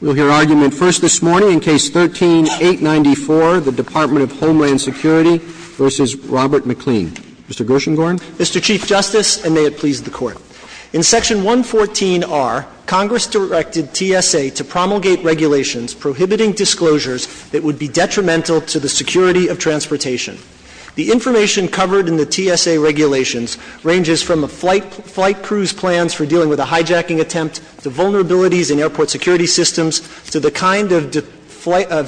We'll hear argument first this morning in Case 13-894, the Department of Homeland Security v. Robert MacLean. Mr. Gershengorn. Mr. Chief Justice, and may it please the Court. In Section 114R, Congress directed TSA to promulgate regulations prohibiting disclosures that would be detrimental to the security of transportation. The information covered in the TSA regulations ranges from flight crews' plans for dealing with a hijacking attempt, to vulnerabilities in airport security systems, to the kind of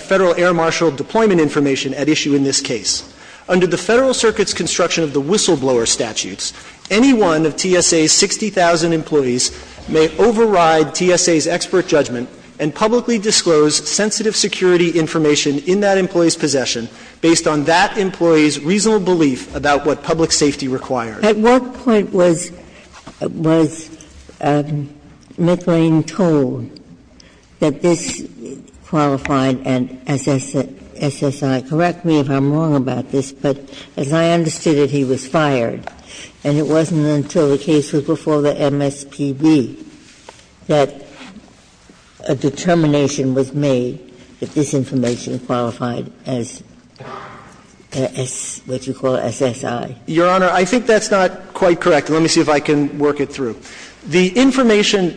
Federal Air Marshal deployment information at issue in this case. Under the Federal Circuit's construction of the whistle-blower statutes, any one of TSA's 60,000 employees may override TSA's expert judgment and publicly disclose sensitive security information in that employee's possession based on that employee's reasonable belief about what public safety requires. At what point was MacLean told that this qualified as SSI? Correct me if I'm wrong about this, but as I understood it, he was fired. And it wasn't until the case was before the MSPB that a determination was made that this information qualified as what you call SSI. Your Honor, I think that's not quite correct. Let me see if I can work it through. The information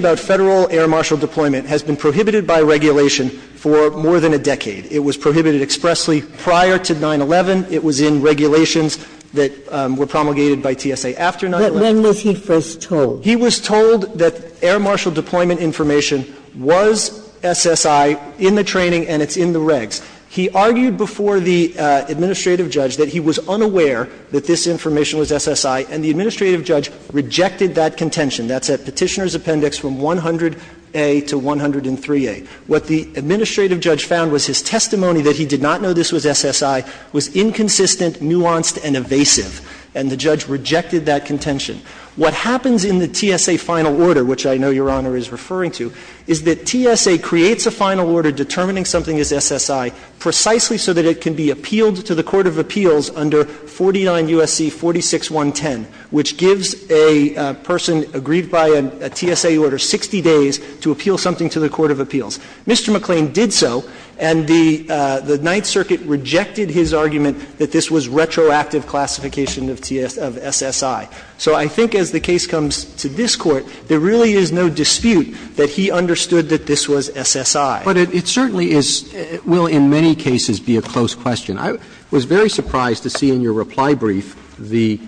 about Federal Air Marshal deployment has been prohibited by regulation for more than a decade. It was prohibited expressly prior to 9-11. It was in regulations that were promulgated by TSA after 9-11. But when was he first told? He was told that Air Marshal deployment information was SSI in the training and it's in the regs. He argued before the administrative judge that he was unaware that this information was SSI, and the administrative judge rejected that contention. That's at Petitioner's Appendix from 100A to 103A. What the administrative judge found was his testimony that he did not know this was SSI was inconsistent, nuanced, and evasive, and the judge rejected that contention. What happens in the TSA final order, which I know Your Honor is referring to, is that it can be appealed to the court of appeals under 49 U.S.C. 46110, which gives a person agreed by a TSA order 60 days to appeal something to the court of appeals. Mr. McLean did so, and the Ninth Circuit rejected his argument that this was retroactive classification of SSI. So I think as the case comes to this Court, there really is no dispute that he understood that this was SSI. But it certainly is — will in many cases be a close question. I was very surprised to see in your reply brief the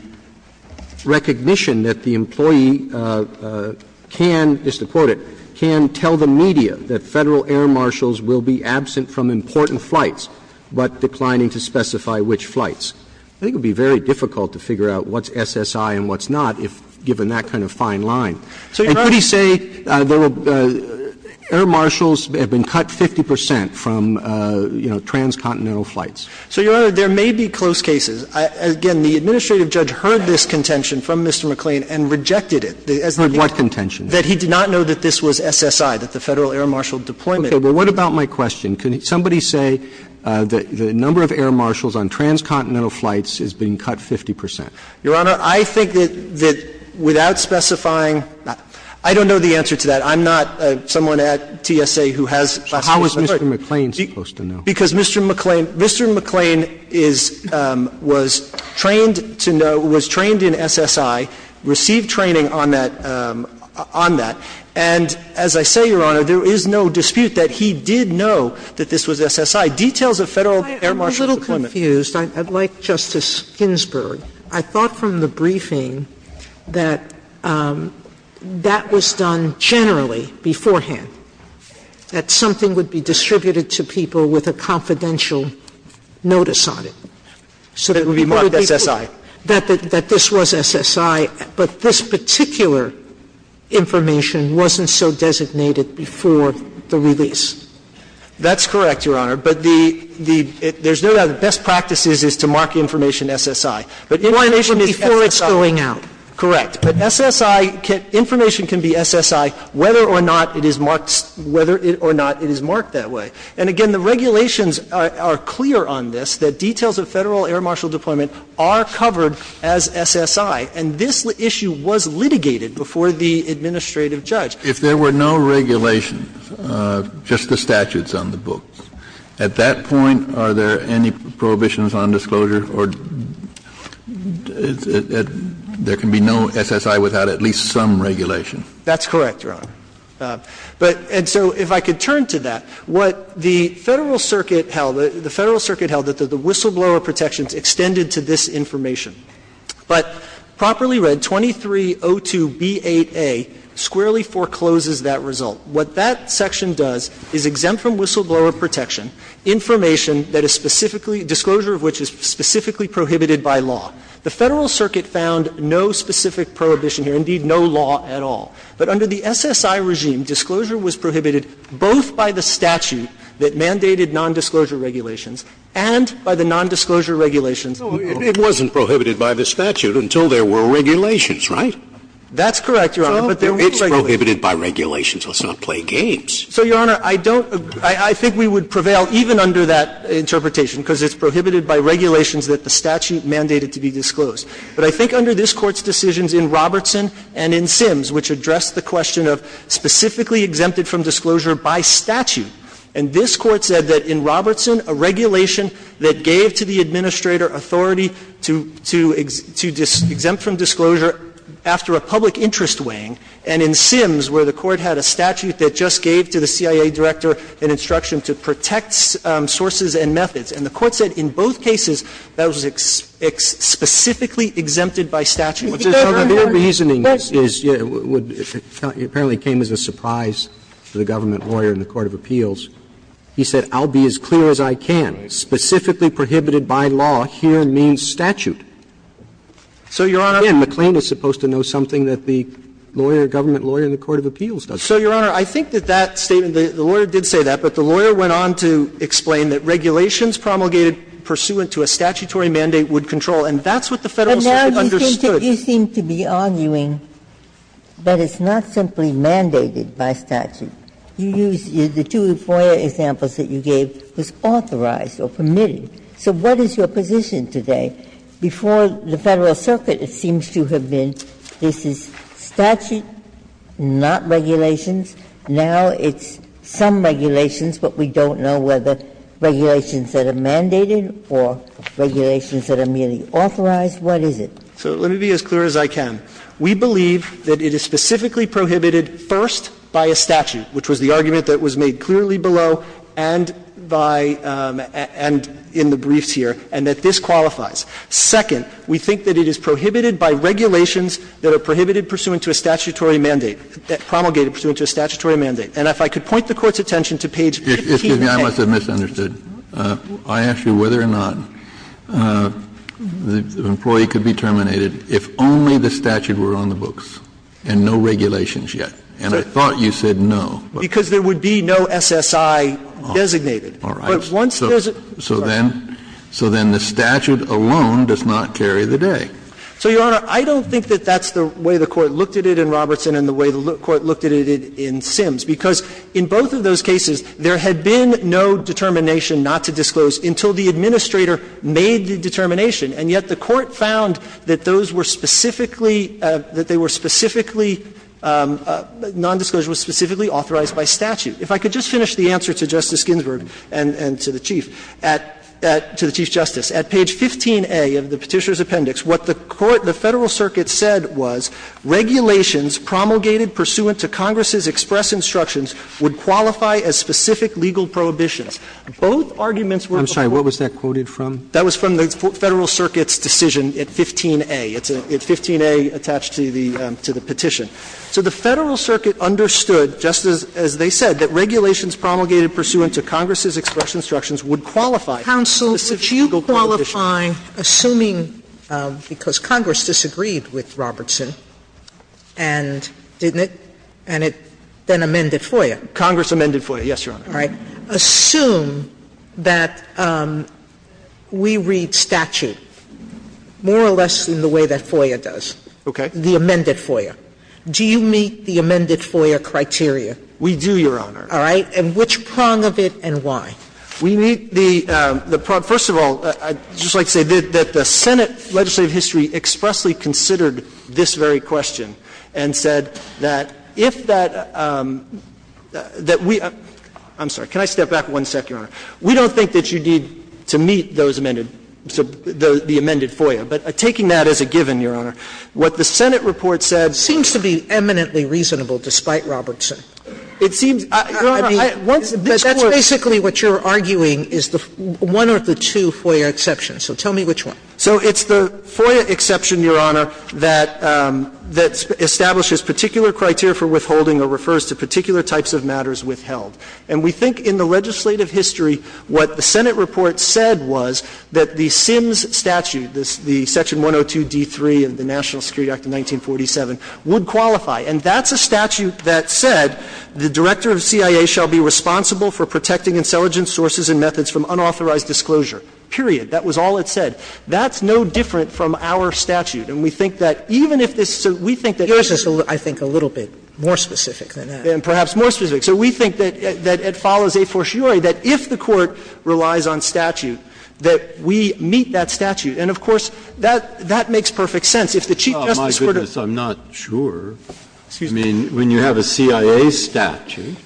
recognition that the employee can, just to quote it, can tell the media that Federal air marshals will be absent from important flights, but declining to specify which flights. I think it would be very difficult to figure out what's SSI and what's not, given that kind of fine line. And could he say there were — air marshals have been cut 50 percent from, you know, transcontinental flights? So, Your Honor, there may be close cases. Again, the administrative judge heard this contention from Mr. McLean and rejected it. Heard what contention? That he did not know that this was SSI, that the Federal air marshal deployment — Okay. But what about my question? Could somebody say that the number of air marshals on transcontinental flights has been cut 50 percent? Your Honor, I think that without specifying — I don't know the answer to that. I'm not someone at TSA who has — So how is Mr. McLean supposed to know? Because Mr. McLean — Mr. McLean is — was trained to know — was trained in SSI, received training on that — on that. And as I say, Your Honor, there is no dispute that he did know that this was SSI. Details of Federal air marshals deployment — I'm a little confused. I'd like Justice Ginsburg. I thought from the briefing that that was done generally beforehand, that something would be distributed to people with a confidential notice on it. So that it would be marked SSI. That this was SSI, but this particular information wasn't so designated before the release. That's correct, Your Honor. But the — there's no doubt the best practice is to mark information SSI. But information is before it's going out. Correct. But SSI can — information can be SSI whether or not it is marked — whether or not it is marked that way. And again, the regulations are clear on this, that details of Federal air marshal deployment are covered as SSI. And this issue was litigated before the administrative judge. If there were no regulations, just the statutes on the books, at that point, are there any prohibitions on disclosure or — there can be no SSI without at least some regulation? That's correct, Your Honor. But — and so if I could turn to that, what the Federal Circuit held — the Federal Circuit held that the whistleblower protections extended to this information. But properly read, 2302b8a squarely forecloses that result. What that section does is exempt from whistleblower protection information that is specifically — disclosure of which is specifically prohibited by law. The Federal Circuit found no specific prohibition here, indeed, no law at all. But under the SSI regime, disclosure was prohibited both by the statute that mandated nondisclosure regulations and by the nondisclosure regulations. Scalia. It wasn't prohibited by the statute until there were regulations, right? That's correct, Your Honor. But there were regulations. It's prohibited by regulations. Let's not play games. So, Your Honor, I don't — I think we would prevail even under that interpretation, because it's prohibited by regulations that the statute mandated to be disclosed. But I think under this Court's decisions in Robertson and in Sims, which addressed the question of specifically exempted from disclosure by statute, and this Court said that in Robertson, a regulation that gave to the administrator authority to — to exempt from disclosure after a public interest weighing, and in Sims, where the Court had a statute that just gave to the CIA director an instruction to protect sources and methods. And the Court said in both cases, that was specifically exempted by statute. So the mere reasoning is — apparently came as a surprise to the government lawyer in the court of appeals. He said, I'll be as clear as I can. Specifically prohibited by law here means statute. So, Your Honor— Again, McLean is supposed to know something that the lawyer, government lawyer in the court of appeals does. So, Your Honor, I think that that statement — the lawyer did say that, but the lawyer went on to explain that regulations promulgated pursuant to a statutory mandate would control, and that's what the Federal Circuit understood. But now you seem to be arguing that it's not simply mandated by statute. You use — the two FOIA examples that you gave was authorized or permitted. So what is your position today? Before the Federal Circuit, it seems to have been this is statute, not regulations. Now it's some regulations, but we don't know whether regulations that are mandated or regulations that are merely authorized. What is it? So let me be as clear as I can. We believe that it is specifically prohibited first by a statute, which was the argument that was made clearly below and by — and in the briefs here, and that this qualifies. Second, we think that it is prohibited by regulations that are prohibited pursuant to a statutory mandate, that promulgated pursuant to a statutory mandate. And if I could point the Court's attention to page 1510. Kennedy, I must have misunderstood. I asked you whether or not the employee could be terminated if only the statute were on the books and no regulations yet. And I thought you said no. Because there would be no SSI designated. All right. But once there's a — So then the statute alone does not carry the day. So, Your Honor, I don't think that that's the way the Court looked at it in Robertson and the way the Court looked at it in Sims, because in both of those cases, there had been no determination not to disclose until the administrator made the determination. And yet the Court found that those were specifically — that they were specifically — nondisclosure was specifically authorized by statute. If I could just finish the answer to Justice Ginsburg and to the Chief at — to the Chief Justice. At page 15A of the Petitioner's Appendix, what the Federal Circuit said was regulations promulgated pursuant to Congress's express instructions would qualify as specific legal prohibitions. Both arguments were— I'm sorry. What was that quoted from? That was from the Federal Circuit's decision at 15A. It's 15A attached to the petition. So the Federal Circuit understood, Justice, as they said, that regulations promulgated pursuant to Congress's express instructions would qualify as specific legal prohibitions. Counsel, would you qualify, assuming — because Congress disagreed with Robertson and didn't it, and it then amended FOIA? Congress amended FOIA, yes, Your Honor. All right. Sotomayor, assume that we read statute more or less in the way that FOIA does. Okay. The amended FOIA. Do you meet the amended FOIA criteria? We do, Your Honor. All right. And which prong of it and why? We meet the — first of all, I'd just like to say that the Senate legislative history expressly considered this very question and said that if that — that we — I'm going to step back one second, Your Honor. We don't think that you need to meet those amended — the amended FOIA. But taking that as a given, Your Honor, what the Senate report said — Seems to be eminently reasonable despite Robertson. It seems — Your Honor, I once — But that's basically what you're arguing is one of the two FOIA exceptions. So tell me which one. So it's the FOIA exception, Your Honor, that establishes particular criteria for withholding or refers to particular types of matters withheld. And we think in the legislative history what the Senate report said was that the SIMS statute, the section 102d3 of the National Security Act of 1947, would qualify. And that's a statute that said the director of CIA shall be responsible for protecting intelligent sources and methods from unauthorized disclosure, period. That was all it said. That's no different from our statute. And we think that even if this — so we think that — Yours is, I think, a little bit more specific than that. Perhaps more specific. So we think that it follows a fortiori that if the Court relies on statute, that we meet that statute. And, of course, that makes perfect sense. If the Chief Justice were to — Oh, my goodness, I'm not sure. I mean, when you have a CIA statute,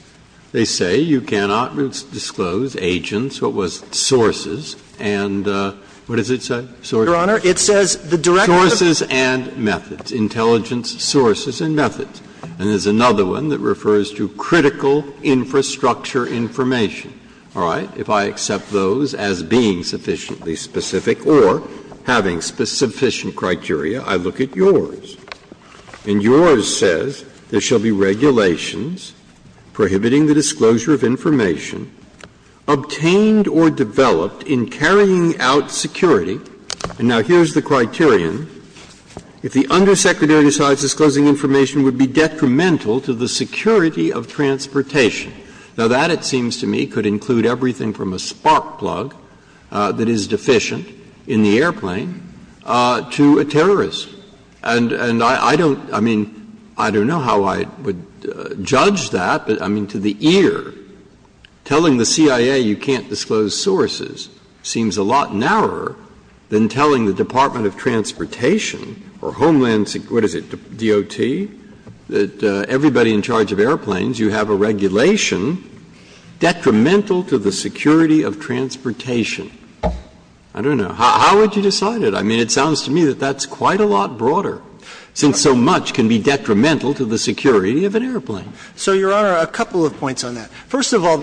they say you cannot disclose agents, what was sources, and what does it say? Sources. Your Honor, it says the director of — Sources and methods, intelligence sources and methods. And there's another one that refers to critical infrastructure information. All right? If I accept those as being sufficiently specific or having sufficient criteria, I look at Yours. And Yours says there shall be regulations prohibiting the disclosure of information obtained or developed in carrying out security. And now here's the criterion. If the undersecretary decides disclosing information would be detrimental to the security of transportation. Now, that, it seems to me, could include everything from a spark plug that is deficient in the airplane to a terrorist. And I don't — I mean, I don't know how I would judge that, but I mean, to the ear, telling the CIA you can't disclose sources seems a lot narrower than telling the Department of Transportation or Homeland — what is it, DOT, that everybody in charge of airplanes, you have a regulation detrimental to the security of transportation. I don't know. How would you decide it? I mean, it sounds to me that that's quite a lot broader, since so much can be detrimental to the security of an airplane. So, Your Honor, a couple of points on that. First of all,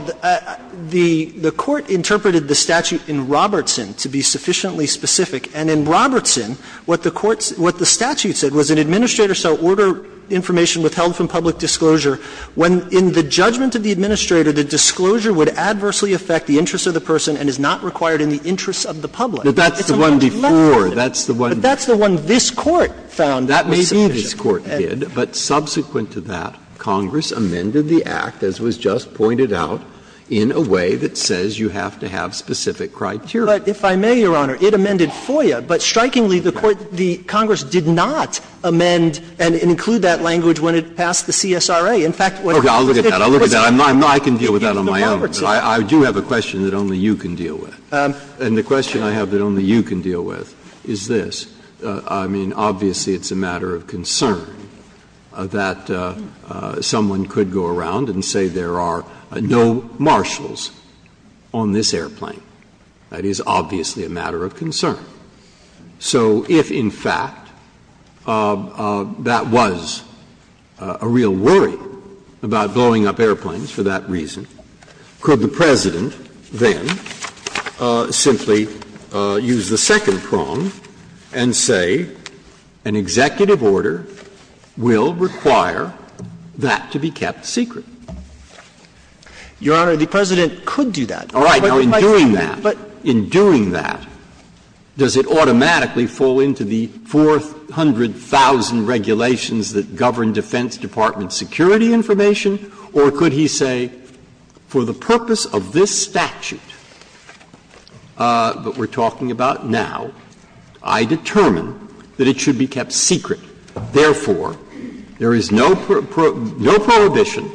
the Court interpreted the statute in Robertson to be sufficiently specific. And in Robertson, what the Court's — what the statute said was an administrator shall order information withheld from public disclosure when, in the judgment of the administrator, the disclosure would adversely affect the interests of the person and is not required in the interests of the public. It's a little bit less broad. Breyer, but that's the one before. That's the one this Court found that may be an issue. Breyer, that's what this Court did. But subsequent to that, Congress amended the act, as was just pointed out, in a way that says you have to have specific criteria. But if I may, Your Honor, it amended FOIA, but strikingly, the Court — the Congress did not amend and include that language when it passed the CSRA. In fact, what it was— Okay. I'll look at that. I'll look at that. I'm not — I can deal with that on my own. But I do have a question that only you can deal with. And the question I have that only you can deal with is this. I mean, obviously, it's a matter of concern that someone could go around and say there are no marshals on this airplane. That is obviously a matter of concern. So if, in fact, that was a real worry about blowing up airplanes for that reason, could the President then simply use the second prong and say an executive order will require that to be kept secret? Your Honor, the President could do that. All right. Now, in doing that, in doing that, does it automatically fall into the 400,000 regulations that govern Defense Department security information? Or could he say, for the purpose of this statute that we're talking about now, I determine that it should be kept secret, therefore, there is no prohibition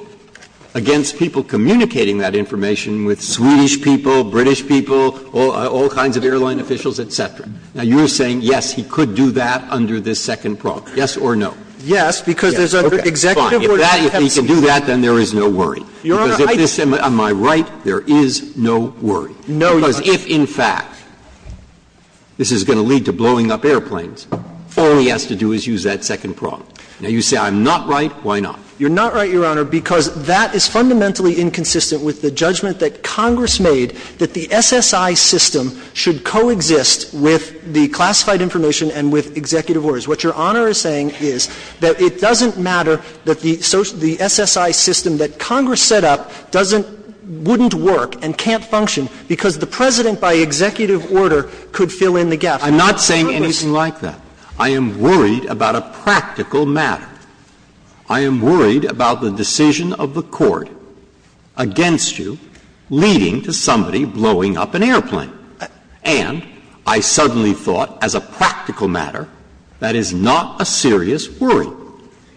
against people communicating that information with Swedish people, British people, all kinds of airline officials, et cetera. Now, you're saying, yes, he could do that under this second prong. Yes or no? Yes, because there's an executive order that has to be kept secret. Fine. If he can do that, then there is no worry. Your Honor, I don't think so. Because if this — am I right? There is no worry. No, Your Honor. Because if, in fact, this is going to lead to blowing up airplanes, all he has to do is use that second prong. Now, you say I'm not right. Why not? You're not right, Your Honor, because that is fundamentally inconsistent with the judgment that Congress made that the SSI system should coexist with the classified information and with executive orders. What Your Honor is saying is that it doesn't matter that the SSI system that Congress set up doesn't — wouldn't work and can't function because the President, by executive order, could fill in the gap. I'm not saying anything like that. I am worried about a practical matter. I am worried about the decision of the Court against you leading to somebody blowing up an airplane. And I suddenly thought, as a practical matter, that is not a serious worry,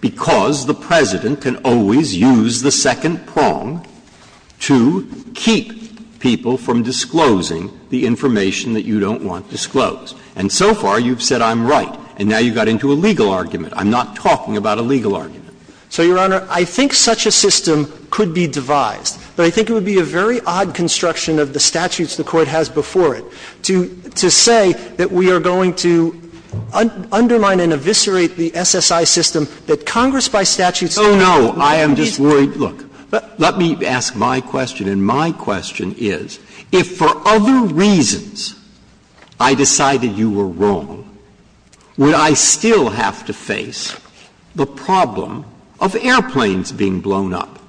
because the President can always use the second prong to keep people from disclosing the information that you don't want disclosed. And so far, you've said I'm right. And now you got into a legal argument. I'm not talking about a legal argument. So, Your Honor, I think such a system could be devised. But I think it would be a very odd construction of the statutes the Court has before it to say that we are going to undermine and eviscerate the SSI system that Congress by statute said it would not be feasible. Oh, no. I am just worried. Look, let me ask my question. And my question is, if for other reasons I decided you were wrong, would I still have to face the problem of airplanes being blown up?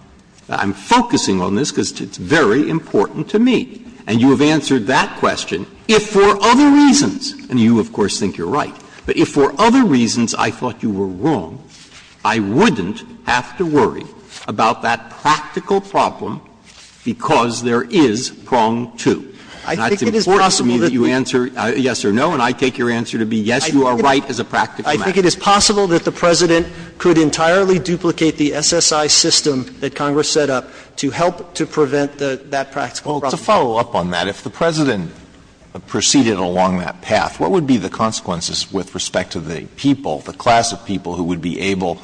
I'm focusing on this because it's very important to me. And you have answered that question. If for other reasons, and you, of course, think you're right, but if for other reasons I thought you were wrong, I wouldn't have to worry about that practical problem because there is prong 2. And it's important to me that you answer yes or no, and I take your answer to be yes, you are right as a practical matter. I think it is possible that the President could entirely duplicate the SSI system that Congress set up to help to prevent that practical problem. Well, to follow up on that, if the President proceeded along that path, what would be the consequences with respect to the people, the class of people who would be able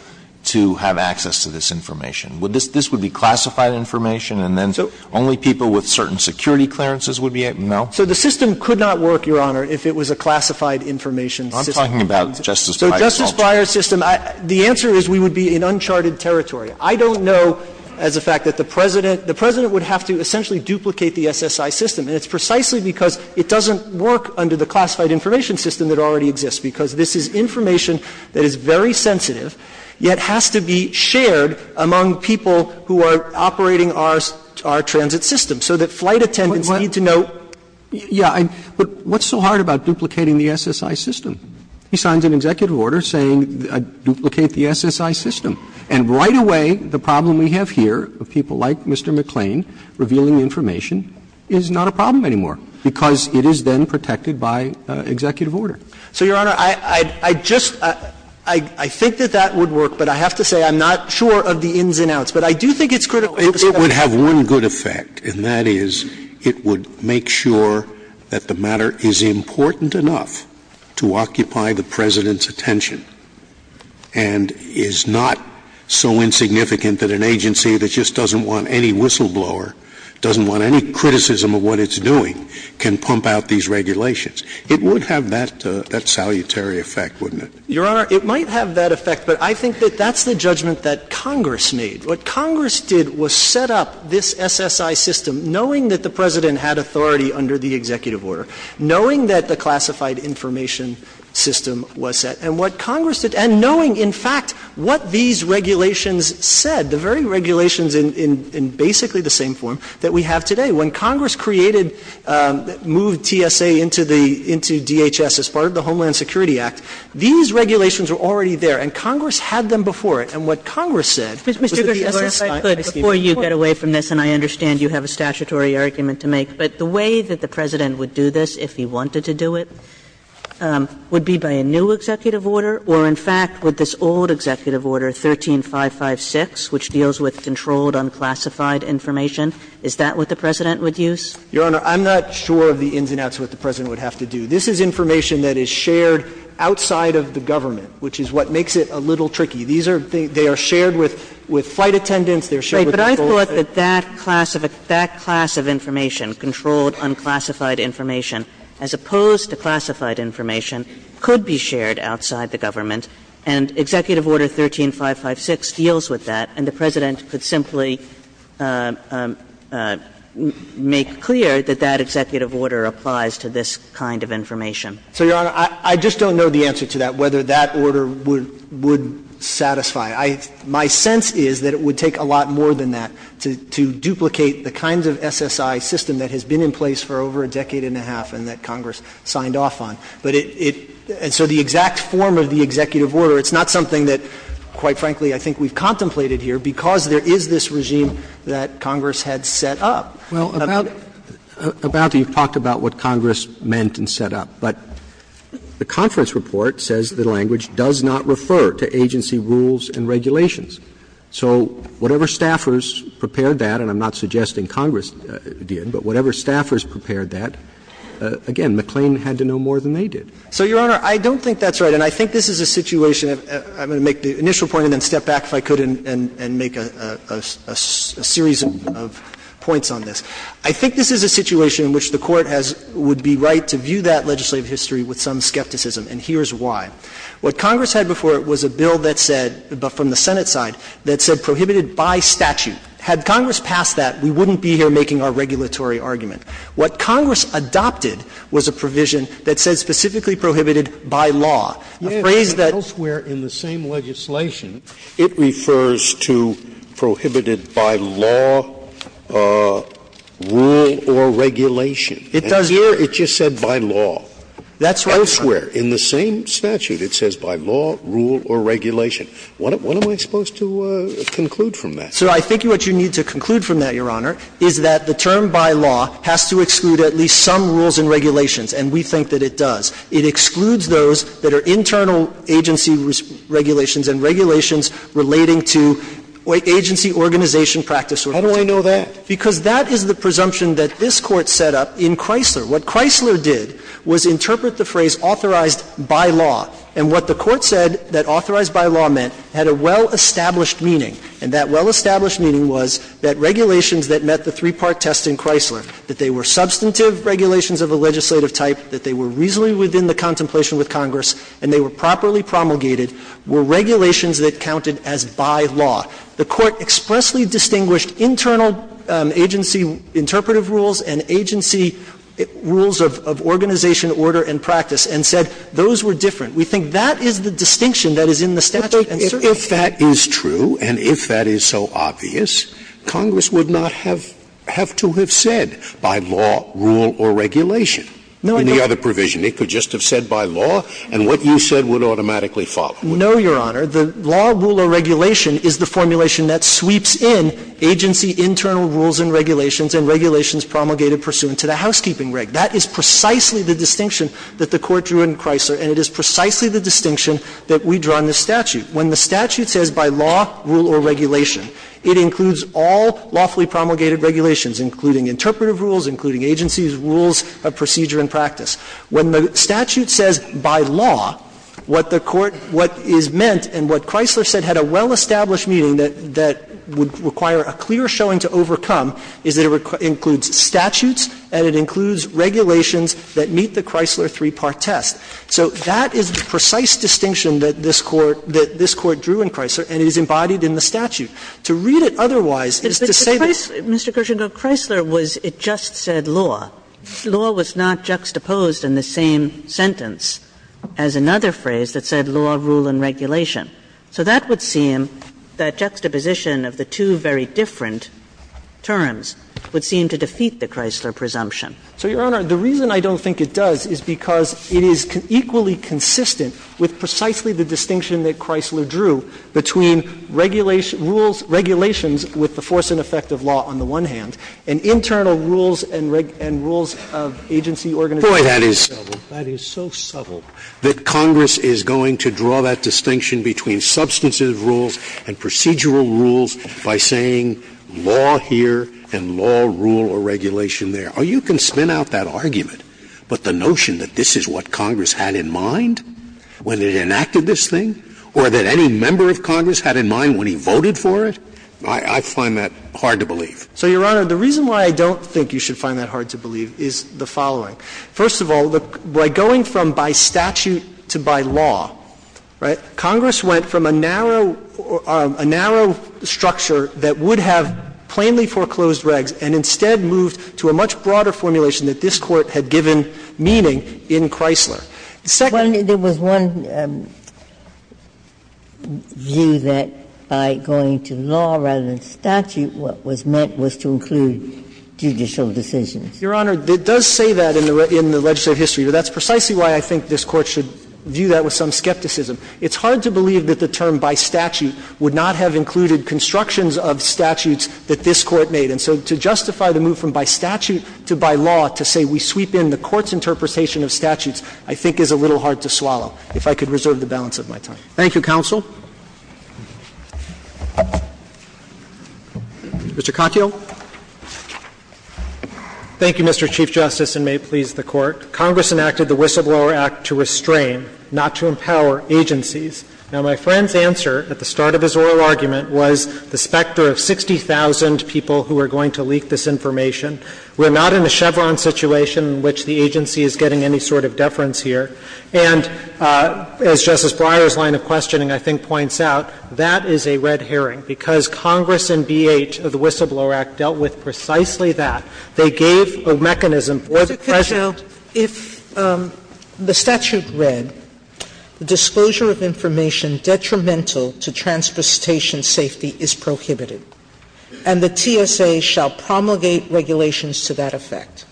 to have access to this information? Would this be classified information, and then only people with certain security clearances would be able to know? So the system could not work, Your Honor, if it was a classified information system. So Justice Breyer's system, the answer is we would be in uncharted territory. I don't know as a fact that the President – the President would have to essentially duplicate the SSI system, and it's precisely because it doesn't work under the classified information system that already exists, because this is information that is very sensitive, yet has to be shared among people who are operating our transit system, so that flight attendants need to know. Yeah, but what's so hard about duplicating the SSI system? He signs an executive order saying duplicate the SSI system. And right away, the problem we have here of people like Mr. McClain revealing information is not a problem anymore, because it is then protected by executive order. So, Your Honor, I just – I think that that would work, but I have to say I'm not sure of the ins and outs. But I do think it's critical. It would have one good effect, and that is it would make sure that the matter is important enough to occupy the President's attention, and is not so insignificant that an agency that just doesn't want any whistleblower, doesn't want any criticism of what it's doing, can pump out these regulations. It would have that – that salutary effect, wouldn't it? Your Honor, it might have that effect, but I think that that's the judgment that Congress made. What Congress did was set up this SSI system knowing that the President had authority under the executive order, knowing that the classified information system was set. And what Congress did – and knowing, in fact, what these regulations said, the very regulations in basically the same form that we have today. When Congress created – moved TSA into the – into DHS as part of the Homeland Security Act, these regulations were already there. And Congress had them before it. And what Congress said was that the SSI scheme was important. Kagan. And I'm not sure that you have a statutory argument to make, but the way that the President would do this if he wanted to do it, would be by a new executive order, or in fact, would this old executive order, 13556, which deals with controlled, unclassified information, is that what the President would use? Your Honor, I'm not sure of the ins and outs of what the President would have to do. This is information that is shared outside of the government, which is what makes it a little tricky. These are – they are shared with – with flight attendants. They're shared with the school. Right. But I thought that that class of – that class of information, controlled, unclassified information, as opposed to classified information, could be shared outside the government, and Executive Order 13556 deals with that, and the President could simply make clear that that executive order applies to this kind of information. So, Your Honor, I just don't know the answer to that, whether that order would satisfy. I – my sense is that it would take a lot more than that to duplicate the kinds of SSI system that has been in place for over a decade and a half and that Congress signed off on. But it – and so the exact form of the executive order, it's not something that, quite frankly, I think we've contemplated here, because there is this regime that Congress had set up. Well, about – about the – you've talked about what Congress meant and set up. But the conference report says the language does not refer to agency rules and regulations. So whatever staffers prepared that, and I'm not suggesting Congress did, but whatever staffers prepared that, again, McLean had to know more than they did. So, Your Honor, I don't think that's right. And I think this is a situation – I'm going to make the initial point and then step back if I could and make a series of points on this. I think this is a situation in which the Court has – would be right to view that legislative history with some skepticism, and here's why. What Congress had before it was a bill that said – but from the Senate side – that said prohibited by statute. Had Congress passed that, we wouldn't be here making our regulatory argument. What Congress adopted was a provision that said specifically prohibited by law. A phrase that – It doesn't say prohibited by law, rule, or regulation. It doesn't. It just said by law. That's what I'm saying. Elsewhere in the same statute, it says by law, rule, or regulation. What am I supposed to conclude from that? So I think what you need to conclude from that, Your Honor, is that the term by law has to exclude at least some rules and regulations, and we think that it does. It excludes those that are internal agency regulations and regulations relating to agency organization practice. How do I know that? Because that is the presumption that this Court set up in Chrysler. What Chrysler did was interpret the phrase authorized by law, and what the Court said that authorized by law meant had a well-established meaning. And that well-established meaning was that regulations that met the three-part test in Chrysler, that they were substantive regulations of a legislative type, that they were reasonably within the contemplation with Congress, and they were properly promulgated, were regulations that counted as by law. The Court expressly distinguished internal agency interpretive rules and agency rules of organization, order, and practice, and said those were different. We think that is the distinction that is in the statute. Scalia. If that is true and if that is so obvious, Congress would not have to have said by law, rule, or regulation. In the other provision, it could just have said by law, and what you said would automatically follow. No, Your Honor. The law, rule, or regulation is the formulation that sweeps in agency internal rules and regulations and regulations promulgated pursuant to the housekeeping reg. That is precisely the distinction that the Court drew in Chrysler, and it is precisely the distinction that we draw in the statute. When the statute says by law, rule, or regulation, it includes all lawfully promulgated regulations, including interpretive rules, including agency rules, procedure, and practice. When the statute says by law, what the Court, what is meant and what Chrysler said had a well-established meaning that would require a clear showing to overcome is that it includes statutes and it includes regulations that meet the Chrysler three-part test. So that is the precise distinction that this Court drew in Chrysler, and it is embodied in the statute. To read it otherwise is to say that Mr. Kershengrove, Chrysler was, it just said law. Law was not juxtaposed in the same sentence as another phrase that said law, rule, and regulation. So that would seem that juxtaposition of the two very different terms would seem to defeat the Chrysler presumption. So, Your Honor, the reason I don't think it does is because it is equally consistent with precisely the distinction that Chrysler drew between regulation, rules, regulations with the force and effect of law on the one hand, and internal rules and rules of agency, organization. Scalia. Boy, that is, that is so subtle that Congress is going to draw that distinction between substantive rules and procedural rules by saying law here and law, rule, or regulation there. You can spin out that argument, but the notion that this is what Congress had in mind when it enacted this thing or that any member of Congress had in mind when he voted for it, I find that hard to believe. So, Your Honor, the reason why I don't think you should find that hard to believe is the following. First of all, by going from by statute to by law, right, Congress went from a narrow or a narrow structure that would have plainly foreclosed regs and instead moved to a much broader formulation that this Court had given meaning in Chrysler. The second one is that there was one view that by going to law rather than statute, what was meant was to include judicial decisions. Your Honor, it does say that in the legislative history, but that's precisely why I think this Court should view that with some skepticism. It's hard to believe that the term by statute would not have included constructions of statutes that this Court made. And so to justify the move from by statute to by law to say we sweep in the Court's discretion, I think is a little hard to swallow, if I could reserve the balance of my time. Thank you, counsel. Mr. Katyal. Thank you, Mr. Chief Justice, and may it please the Court. Congress enacted the Whistleblower Act to restrain, not to empower, agencies. Now, my friend's answer at the start of his oral argument was the specter of 60,000 people who are going to leak this information. We're not in a Chevron situation in which the agency is getting any sort of deference here. And as Justice Breyer's line of questioning, I think, points out, that is a red herring because Congress in B.H. of the Whistleblower Act dealt with precisely that. They gave a mechanism for the President to do that. Sotomayor, if the statute read, the disclosure of information detrimental to transportation safety is prohibited under the statute, and the TSA shall promulgate regulations to that effect,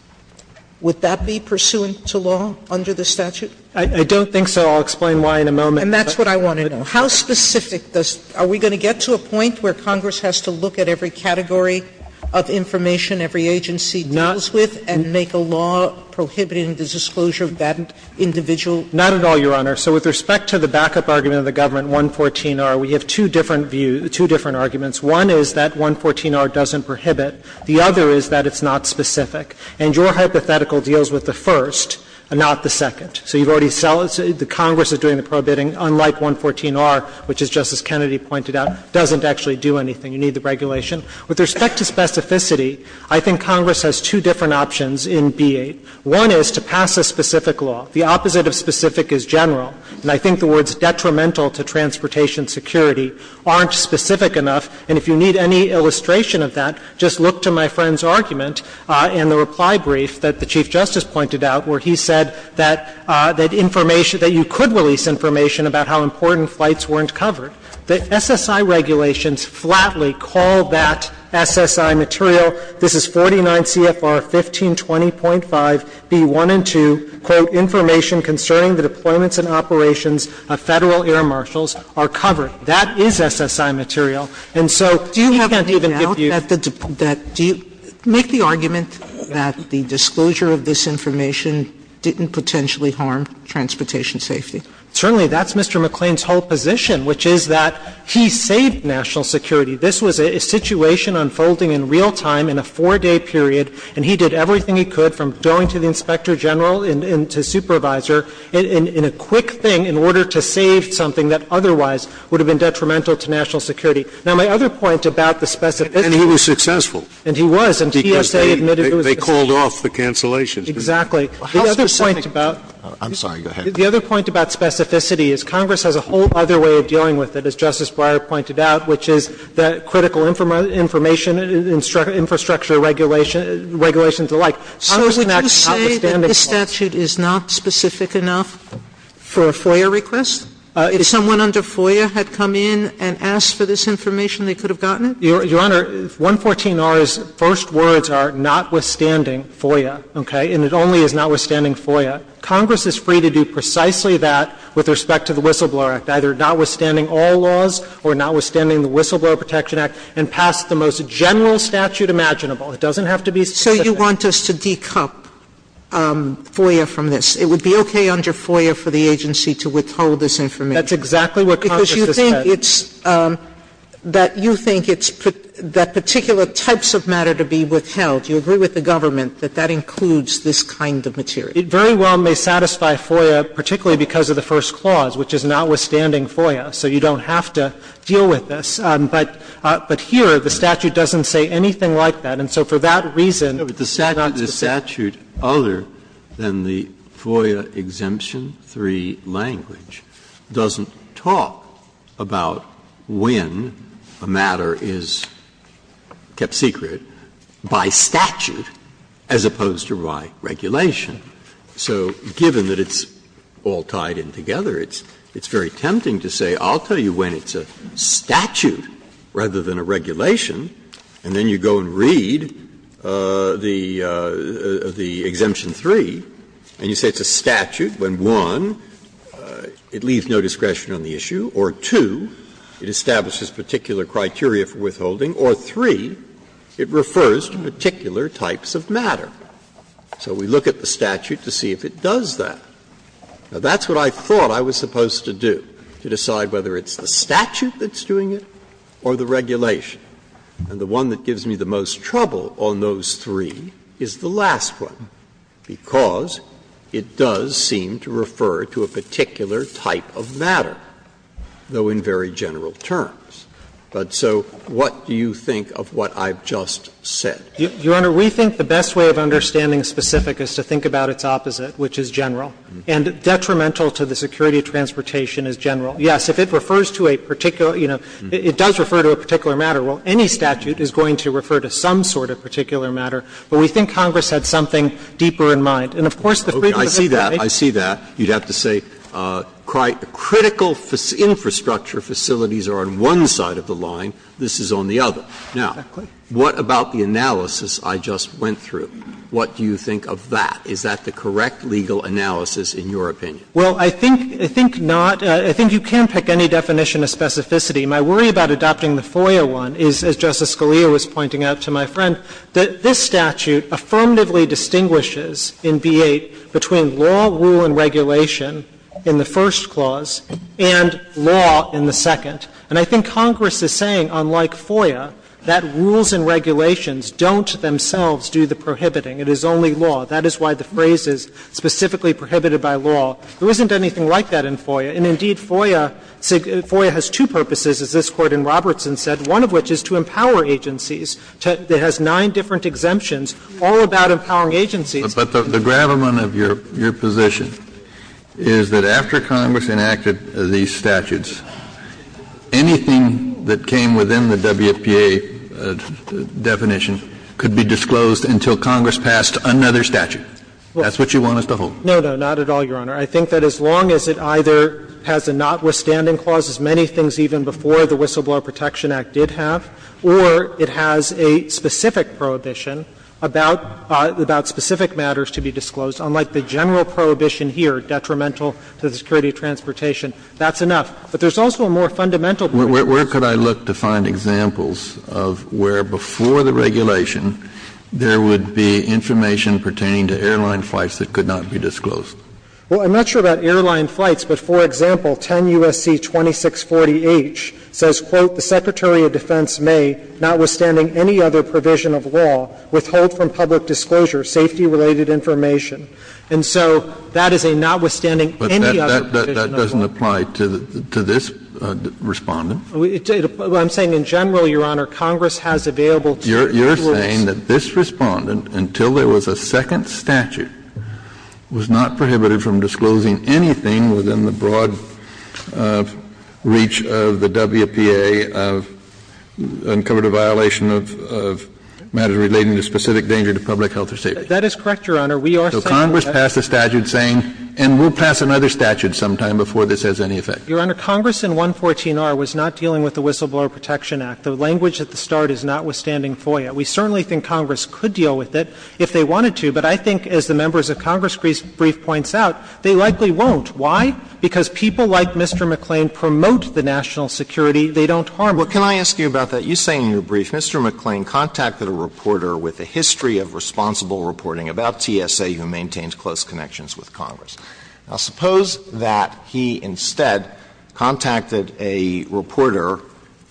would that be pursuant to law under the statute? I don't think so. I'll explain why in a moment. And that's what I want to know. How specific does the Statute? Are we going to get to a point where Congress has to look at every category of information every agency deals with and make a law prohibiting the disclosure of that individual information? Not at all, Your Honor. So with respect to the backup argument of the Government 114-R, we have two different views, two different arguments. One is that 114-R doesn't prohibit. The other is that it's not specific. And your hypothetical deals with the first, not the second. So you've already said the Congress is doing the prohibiting, unlike 114-R, which as Justice Kennedy pointed out, doesn't actually do anything. You need the regulation. With respect to specificity, I think Congress has two different options in B.H. One is to pass a specific law. The opposite of specific is general. And I think the words detrimental to transportation security aren't specific enough. And if you need any illustration of that, just look to my friend's argument in the reply brief that the Chief Justice pointed out where he said that information that you could release information about how important flights weren't covered. The SSI regulations flatly call that SSI material. This is 49 CFR 1520.5, B.1 and 2, quote, information concerning the deployments and operations of Federal air marshals are covered. That is SSI material. And so we can't even give you the definition. Sotomayor, do you have any doubt that the – do you make the argument that the disclosure of this information didn't potentially harm transportation safety? Certainly. That's Mr. McClain's whole position, which is that he saved national security. This was a situation unfolding in real time in a 4-day period, and he did everything he could from going to the inspector general and to supervisor in a quick thing in order to save something that otherwise would have been detrimental to national security. Now, my other point about the specificity of it – And he was successful. And he was, and TSA admitted it was – Because they called off the cancellations. Exactly. The other point about – I'm sorry. Go ahead. The other point about specificity is Congress has a whole other way of dealing with it, as Justice Breyer pointed out, which is the critical information infrastructure regulation – regulations alike. So would you say that this statute is not specific enough for a FOIA request? If someone under FOIA had come in and asked for this information, they could have gotten it? Your Honor, 114R's first words are, notwithstanding FOIA, okay? And it only is notwithstanding FOIA. Congress is free to do precisely that with respect to the Whistleblower Act, either notwithstanding all laws or notwithstanding the Whistleblower Protection Act and pass the most general statute imaginable. It doesn't have to be specific. So you want us to de-cup FOIA from this? It would be okay under FOIA for the agency to withhold this information? That's exactly what Congress has said. Because you think it's – that you think it's – that particular types of matter to be withheld, you agree with the government that that includes this kind of material? It very well may satisfy FOIA, particularly because of the first clause, which is notwithstanding FOIA. So you don't have to deal with this. But here, the statute doesn't say anything like that. And so for that reason, it's not specific. Breyer, but the statute other than the FOIA Exemption 3 language doesn't talk about when a matter is kept secret by statute as opposed to by regulation. So given that it's all tied in together, it's very tempting to say I'll tell you when it's a statute rather than a regulation, and then you go and read the statute under the Exemption 3, and you say it's a statute when, one, it leaves no discretion on the issue, or, two, it establishes particular criteria for withholding, or, three, it refers to particular types of matter. So we look at the statute to see if it does that. Now, that's what I thought I was supposed to do, to decide whether it's the statute that's doing it or the regulation. And the one that gives me the most trouble on those three is the last one, because it does seem to refer to a particular type of matter, though in very general terms. But so what do you think of what I've just said? Your Honor, we think the best way of understanding specific is to think about its opposite, which is general, and detrimental to the security of transportation is general. Yes, if it refers to a particular, you know, it does refer to a particular matter. Well, any statute is going to refer to some sort of particular matter, but we think Congress had something deeper in mind. And of course, the freedom of information. Breyer. I see that. I see that. You'd have to say critical infrastructure facilities are on one side of the line. This is on the other. Now, what about the analysis I just went through? What do you think of that? Is that the correct legal analysis in your opinion? Well, I think not. I think you can pick any definition of specificity. My worry about adopting the FOIA one is, as Justice Scalia was pointing out to my friend, that this statute affirmatively distinguishes in B-8 between law, rule, and regulation in the first clause and law in the second. And I think Congress is saying, unlike FOIA, that rules and regulations don't themselves do the prohibiting. It is only law. That is why the phrase is specifically prohibited by law. There isn't anything like that in FOIA. And indeed, FOIA has two purposes, as this Court in Robertson said, one of which is to empower agencies. It has nine different exemptions all about empowering agencies. But the gravamen of your position is that after Congress enacted these statutes, anything that came within the WPA definition could be disclosed until Congress passed another statute. That's what you want us to hold. No, no, not at all, Your Honor. I think that as long as it either has a notwithstanding clause, as many things even before the Whistleblower Protection Act did have, or it has a specific prohibition about specific matters to be disclosed, unlike the general prohibition here, detrimental to the security of transportation, that's enough. But there's also a more fundamental purpose. Kennedy, where could I look to find examples of where before the regulation Well, I'm not sure about airline flights, but, for example, 10 U.S.C. 2640H says, quote, "...the Secretary of Defense may, notwithstanding any other provision of law, withhold from public disclosure safety-related information." And so that is a notwithstanding any other provision of law. But that doesn't apply to this Respondent. I'm saying in general, Your Honor, Congress has available to us. You're saying that this Respondent, until there was a second statute, was not prohibited from disclosing anything within the broad reach of the WPA of uncovered a violation of matters relating to specific danger to public health or safety? That is correct, Your Honor. We are saying that. So Congress passed a statute saying, and we'll pass another statute sometime before this has any effect. Your Honor, Congress in 114R was not dealing with the Whistleblower Protection Act. The language at the start is notwithstanding FOIA. We certainly think Congress could deal with it if they wanted to, but I think as the brief points out, they likely won't. Why? Because people like Mr. McClain promote the national security. They don't harm it. Alito, can I ask you about that? You say in your brief, Mr. McClain contacted a reporter with a history of responsible reporting about TSA who maintains close connections with Congress. Now, suppose that he instead contacted a reporter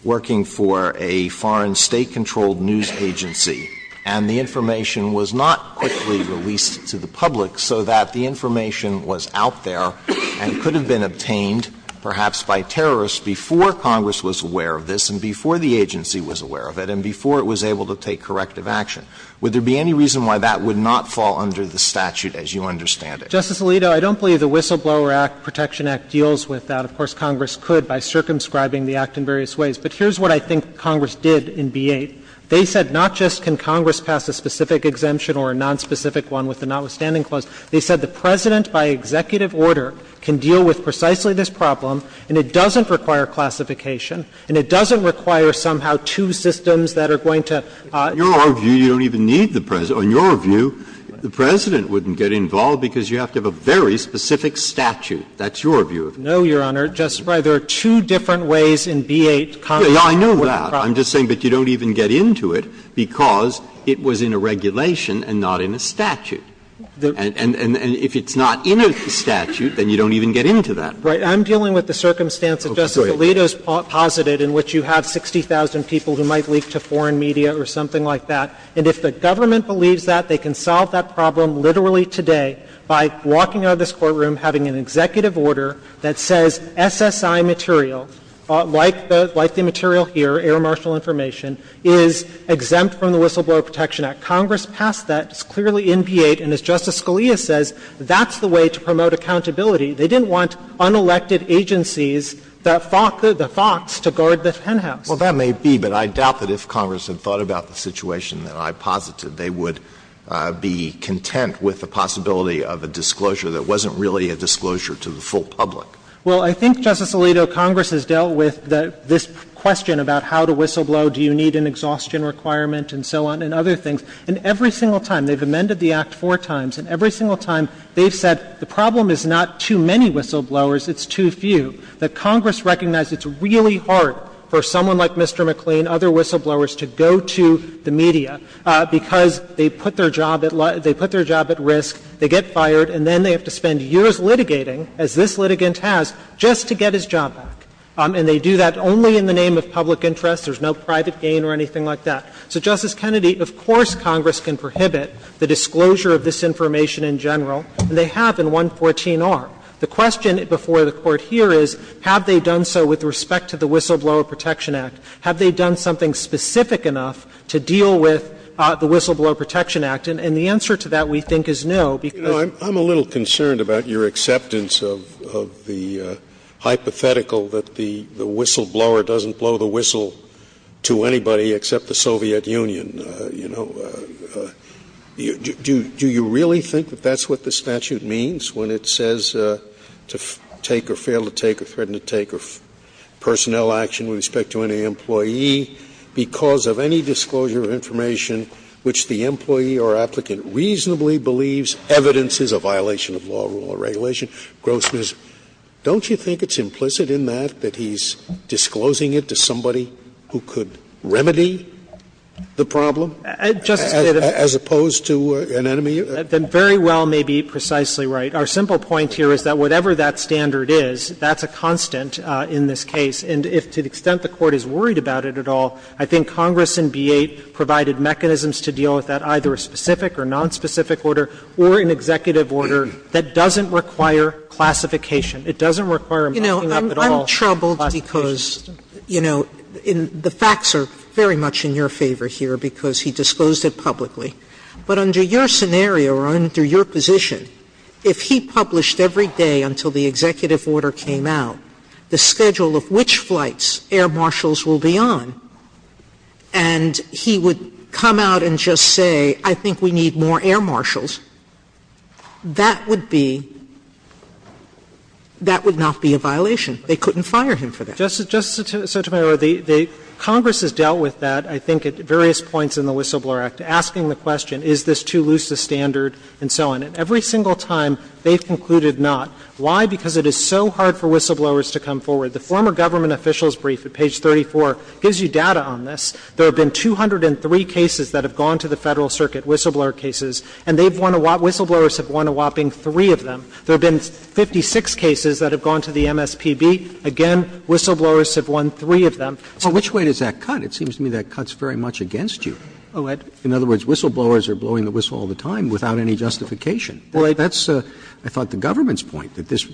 working for a foreign State-controlled news agency, and the information was not quickly released to the public so that the information was out there and could have been obtained, perhaps by terrorists, before Congress was aware of this and before the agency was aware of it and before it was able to take corrective action. Would there be any reason why that would not fall under the statute as you understand it? Justice Alito, I don't believe the Whistleblower Act Protection Act deals with that. Of course, Congress could by circumscribing the act in various ways. But here's what I think Congress did in B-8. They said not just can Congress pass a specific exemption or a nonspecific one with the notwithstanding clause, they said the President by executive order can deal with precisely this problem, and it doesn't require classification, and it doesn't require somehow two systems that are going to. Breyer, in your view, you don't even need the President. In your view, the President wouldn't get involved because you have to have a very specific statute. That's your view of it. No, Your Honor. Justice Breyer, there are two different ways in B-8 Congress can work with the problem. Breyer, I know that. I'm just saying that you don't even get into it because it was in a regulation and not in a statute. And if it's not in a statute, then you don't even get into that. Right. I'm dealing with the circumstance that Justice Alito has posited in which you have 60,000 people who might leak to foreign media or something like that. And if the government believes that, they can solve that problem literally today by walking out of this courtroom, having an executive order that says SSI material, like the material here, air marshal information, is exempt from the Whistleblower Protection Act. Congress passed that. It's clearly in B-8. And as Justice Scalia says, that's the way to promote accountability. They didn't want unelected agencies, the FOX, to guard the penthouse. Well, that may be, but I doubt that if Congress had thought about the situation that I posited, they would be content with the possibility of a disclosure that wasn't really a disclosure to the full public. Well, I think, Justice Alito, Congress has dealt with this question about how to whistleblow, do you need an exhaustion requirement, and so on, and other things. And every single time, they've amended the Act four times, and every single time they've said the problem is not too many whistleblowers, it's too few, that Congress recognized it's really hard for someone like Mr. McLean, other whistleblowers, to go to the media, because they put their job at risk, they get fired, and then they have to spend years litigating, as this litigant has, just to get his job back. And they do that only in the name of public interest. There's no private gain or anything like that. So, Justice Kennedy, of course Congress can prohibit the disclosure of this information in general, and they have in 114R. The question before the Court here is, have they done so with respect to the Whistleblower Protection Act? Have they done something specific enough to deal with the Whistleblower Protection Act? And the answer to that, we think, is no, because Scalia, I'm a little concerned about your acceptance of the hypothetical that the whistleblower doesn't blow the whistle to anybody except the Soviet Union. You know, do you really think that that's what the statute means when it says to take or fail to take, or threaten to take, or personnel action with respect to any employee, because of any disclosure of information which the employee or applicant reasonably believes evidence is a violation of law, rule, or regulation? Grossman, don't you think it's implicit in that, that he's disclosing it to somebody who could remedy the problem, as opposed to an enemy? I think you very well may be precisely right. Our simple point here is that whatever that standard is, that's a constant in this case. And to the extent the Court is worried about it at all, I think Congress in B-8 provided mechanisms to deal with that, either a specific or nonspecific order, or an executive order that doesn't require classification. It doesn't require a marking up at all classification system. Sotomayor, you know, I'm troubled because, you know, the facts are very much in your favor here, because he disclosed it publicly. But under your scenario, or under your position, if he published every day until the executive order came out the schedule of which flights air marshals will be on, and he would come out and just say, I think we need more air marshals, that would be — that would not be a violation. They couldn't fire him for that. Justices Sotomayor, the Congress has dealt with that, I think, at various points in the Whistleblower Act, asking the question, is this too loose a standard, and so on. And every single time they've concluded not. Why? Because it is so hard for whistleblowers to come forward. The former government officials' brief at page 34 gives you data on this. There have been 203 cases that have gone to the Federal Circuit, whistleblower cases, and they've won a — whistleblowers have won a whopping three of them. There have been 56 cases that have gone to the MSPB. Again, whistleblowers have won three of them. So which way does that cut? It seems to me that cuts very much against you. In other words, whistleblowers are blowing the whistle all the time without any justification. That's, I thought, the government's point, that this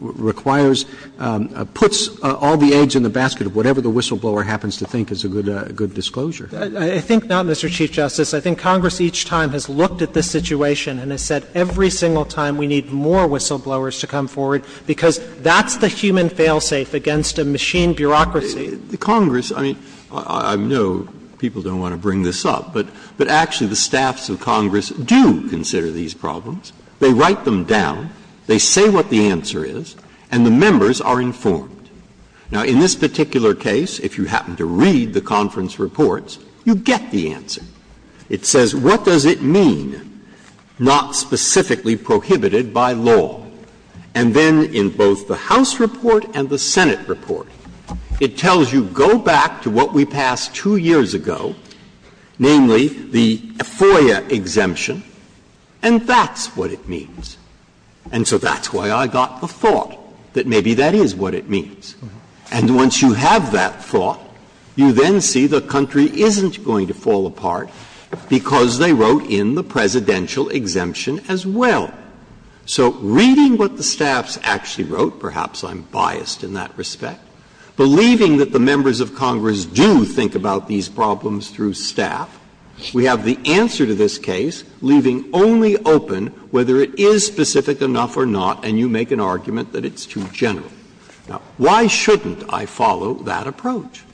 requires — puts all the eggs in the basket of whatever the whistleblower happens to think is a good disclosure. I think not, Mr. Chief Justice. I think Congress each time has looked at this situation and has said every single time we need more whistleblowers to come forward, because that's the human fail-safe against a machine bureaucracy. Breyer. The Congress, I mean, I know people don't want to bring this up, but actually the staffs of Congress do consider these problems. They write them down, they say what the answer is, and the members are informed. Now, in this particular case, if you happen to read the conference reports, you get the answer. It says, what does it mean, not specifically prohibited by law? And then in both the House report and the Senate report. It tells you, go back to what we passed two years ago, namely the FOIA exemption, and that's what it means. And so that's why I got the thought that maybe that is what it means. And once you have that thought, you then see the country isn't going to fall apart because they wrote in the presidential exemption as well. So reading what the staffs actually wrote, perhaps I'm biased in that respect, believing that the members of Congress do think about these problems through staff, we have the answer to this case, leaving only open whether it is specific enough or not, and you make an argument that it's too general. Now, why shouldn't I follow that approach?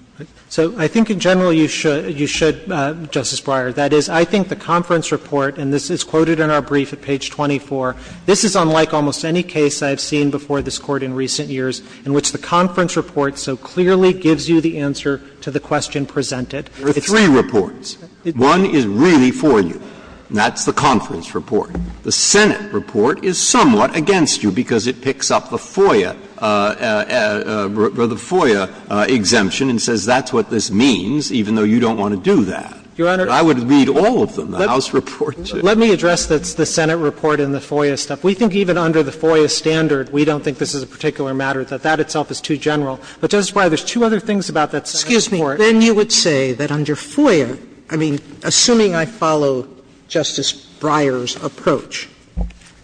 So I think in general you should, Justice Breyer. That is, I think the conference report, and this is quoted in our brief at page 24, this is unlike almost any case I have seen before this Court in recent years in which the conference report so clearly gives you the answer to the question presented. Breyer, there are three reports. One is really for you, and that's the conference report. The Senate report is somewhat against you because it picks up the FOIA, the FOIA exemption and says that's what this means, even though you don't want to do that. Your Honor. I would read all of them, the House reports. Let me address the Senate report and the FOIA stuff. We think even under the FOIA standard, we don't think this is a particular matter, that that itself is too general. But Justice Breyer, there's two other things about that Senate report. Sotomayor, then you would say that under FOIA, I mean, assuming I follow Justice Breyer's approach,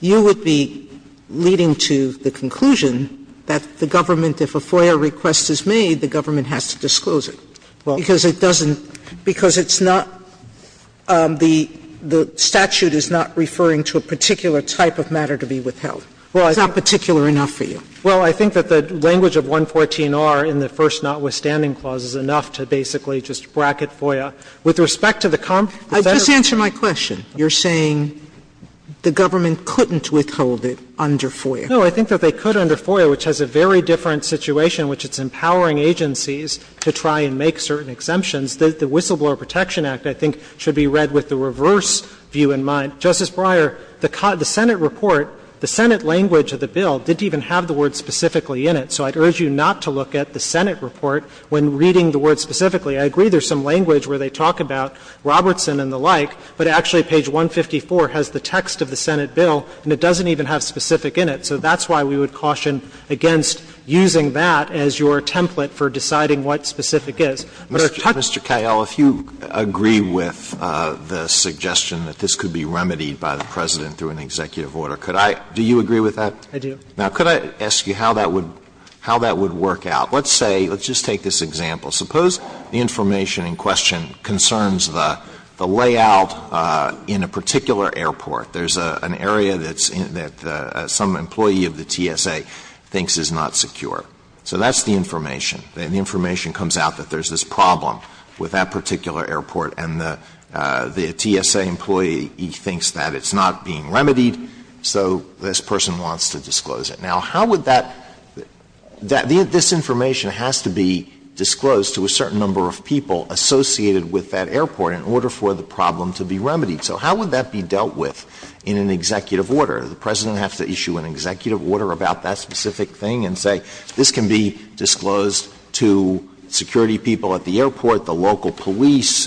you would be leading to the conclusion that the government, if a FOIA request is made, the government has to disclose it. Because it doesn't – because it's not – the statute is not referring to a particular type of matter to be withheld. It's not particular enough for you. Well, I think that the language of 114R in the first notwithstanding clause is enough to basically just bracket FOIA. With respect to the – Just answer my question. You're saying the government couldn't withhold it under FOIA. No. I think that they could under FOIA, which has a very different situation, which it's empowering agencies to try and make certain exemptions. The Whistleblower Protection Act, I think, should be read with the reverse view in mind. Justice Breyer, the Senate report, the Senate language of the bill didn't even have the word specifically in it, so I'd urge you not to look at the Senate report when reading the word specifically. I agree there's some language where they talk about Robertson and the like, but actually page 154 has the text of the Senate bill and it doesn't even have specific in it. So that's why we would caution against using that as your template for deciding what specific is. Mr. Cahill, if you agree with the suggestion that this could be remedied by the President through an executive order, could I – do you agree with that? I do. Now, could I ask you how that would – how that would work out? Let's say – let's just take this example. Suppose the information in question concerns the layout in a particular airport. There's an area that's – that some employee of the TSA thinks is not secure. So that's the information. The information comes out that there's this problem with that particular airport and the TSA employee thinks that it's not being remedied, so this person wants to disclose it. Now, how would that – this information has to be disclosed to a certain number of people associated with that airport in order for the problem to be remedied. So how would that be dealt with in an executive order? The President has to issue an executive order about that specific thing and say this can be disclosed to security people at the airport, the local police,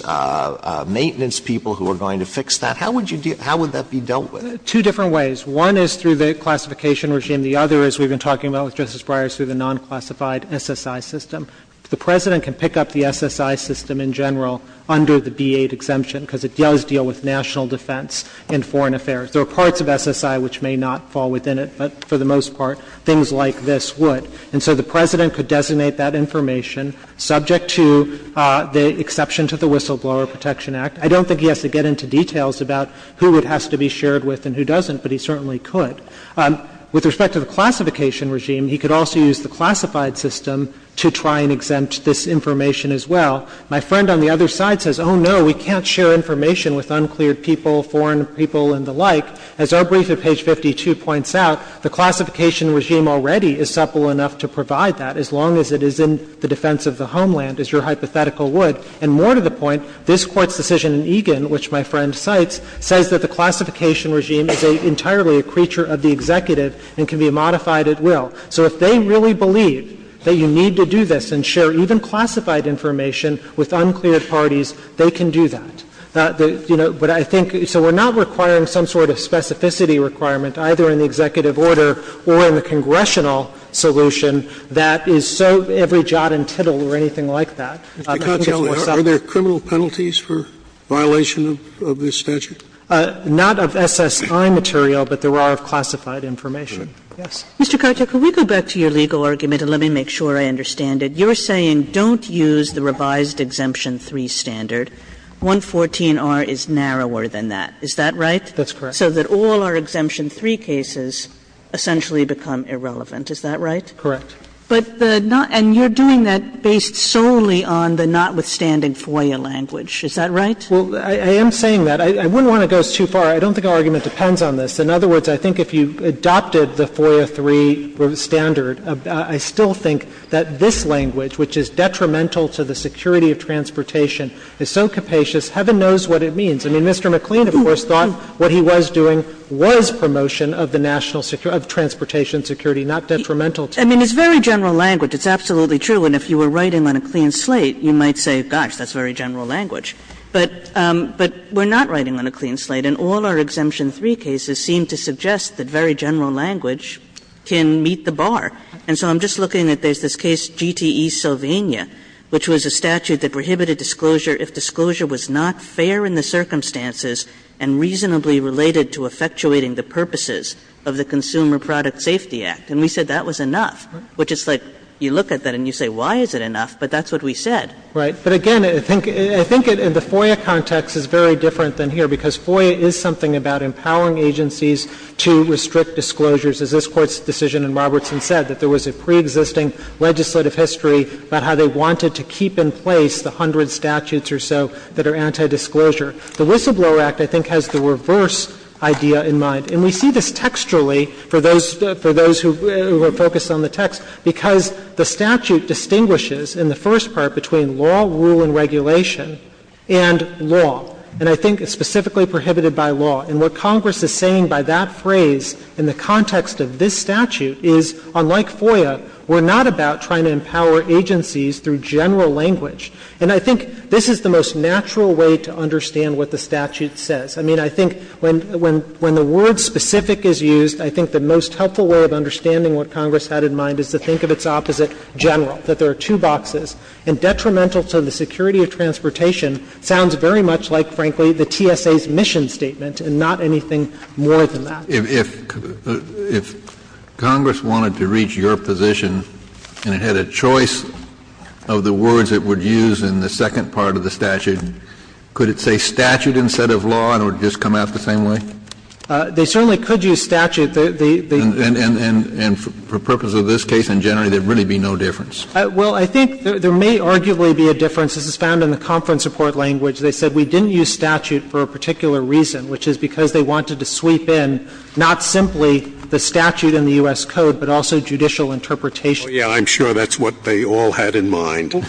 maintenance people who are going to fix that. How would you deal – how would that be dealt with? Two different ways. One is through the classification regime. The other is we've been talking about with Justice Breyer is through the non-classified SSI system. The President can pick up the SSI system in general under the B-8 exemption because it does deal with national defense and foreign affairs. There are parts of SSI which may not fall within it, but for the most part, things like this would. And so the President could designate that information subject to the exception to the Whistleblower Protection Act. I don't think he has to get into details about who it has to be shared with and who it doesn't, but he certainly could. With respect to the classification regime, he could also use the classified system to try and exempt this information as well. My friend on the other side says, oh, no, we can't share information with unclear people, foreign people and the like. As our brief at page 52 points out, the classification regime already is supple enough to provide that as long as it is in the defense of the homeland, as your hypothetical would. And more to the point, this Court's decision in Egan, which my friend cites, says that the classification regime is entirely a creature of the executive and can be modified at will. So if they really believe that you need to do this and share even classified information with unclear parties, they can do that. You know, but I think so we're not requiring some sort of specificity requirement either in the executive order or in the congressional solution that is so every jot and tittle or anything like that. I think it's more subtle. Scalia. Are there criminal penalties for violation of this statute? Not of SSI material, but there are of classified information. Yes. Kagan. Mr. Karczuk, can we go back to your legal argument, and let me make sure I understand it. You're saying don't use the revised Exemption 3 standard. 114R is narrower than that. Is that right? That's correct. So that all our Exemption 3 cases essentially become irrelevant. Is that right? Correct. But the not – and you're doing that based solely on the notwithstanding FOIA language. Is that right? Well, I am saying that. I wouldn't want to go too far. I don't think our argument depends on this. In other words, I think if you adopted the FOIA 3 standard, I still think that this language, which is detrimental to the security of transportation, is so capacious, heaven knows what it means. I mean, Mr. McLean, of course, thought what he was doing was promotion of the national security – of transportation security, not detrimental to it. I mean, it's very general language. It's absolutely true. And if you were writing on a clean slate, you might say, gosh, that's very general language. But we're not writing on a clean slate, and all our Exemption 3 cases seem to suggest that very general language can meet the bar. And so I'm just looking at there's this case, GTE-Sylvania, which was a statute that prohibited disclosure if disclosure was not fair in the circumstances and reasonably related to effectuating the purposes of the Consumer Product Safety Act. And we said that was enough, which is like you look at that and you say, why is it enough? But that's what we said. Right. But again, I think the FOIA context is very different than here, because FOIA is something about empowering agencies to restrict disclosures, as this Court's decision in Robertson said, that there was a preexisting legislative history about how they wanted to keep in place the hundred statutes or so that are anti-disclosure. The Whistleblower Act, I think, has the reverse idea in mind. And we see this textually, for those who are focused on the text, because the statute distinguishes, in the first part, between law, rule and regulation and law. And I think it's specifically prohibited by law. And what Congress is saying by that phrase in the context of this statute is, unlike FOIA, we're not about trying to empower agencies through general language. And I think this is the most natural way to understand what the statute says. I mean, I think when the word specific is used, I think the most helpful way of understanding that there are two boxes, and detrimental to the security of transportation, sounds very much like, frankly, the TSA's mission statement, and not anything more than that. Kennedy, if Congress wanted to reach your position, and it had a choice of the words it would use in the second part of the statute, could it say statute instead of law, and it would just come out the same way? They certainly could use statute. And for purpose of this case in general, there would really be no difference. Well, I think there may arguably be a difference. This is found in the conference report language. They said we didn't use statute for a particular reason, which is because they wanted to sweep in not simply the statute in the U.S. Code, but also judicial interpretation. Oh, yeah, I'm sure that's what they all had in mind. I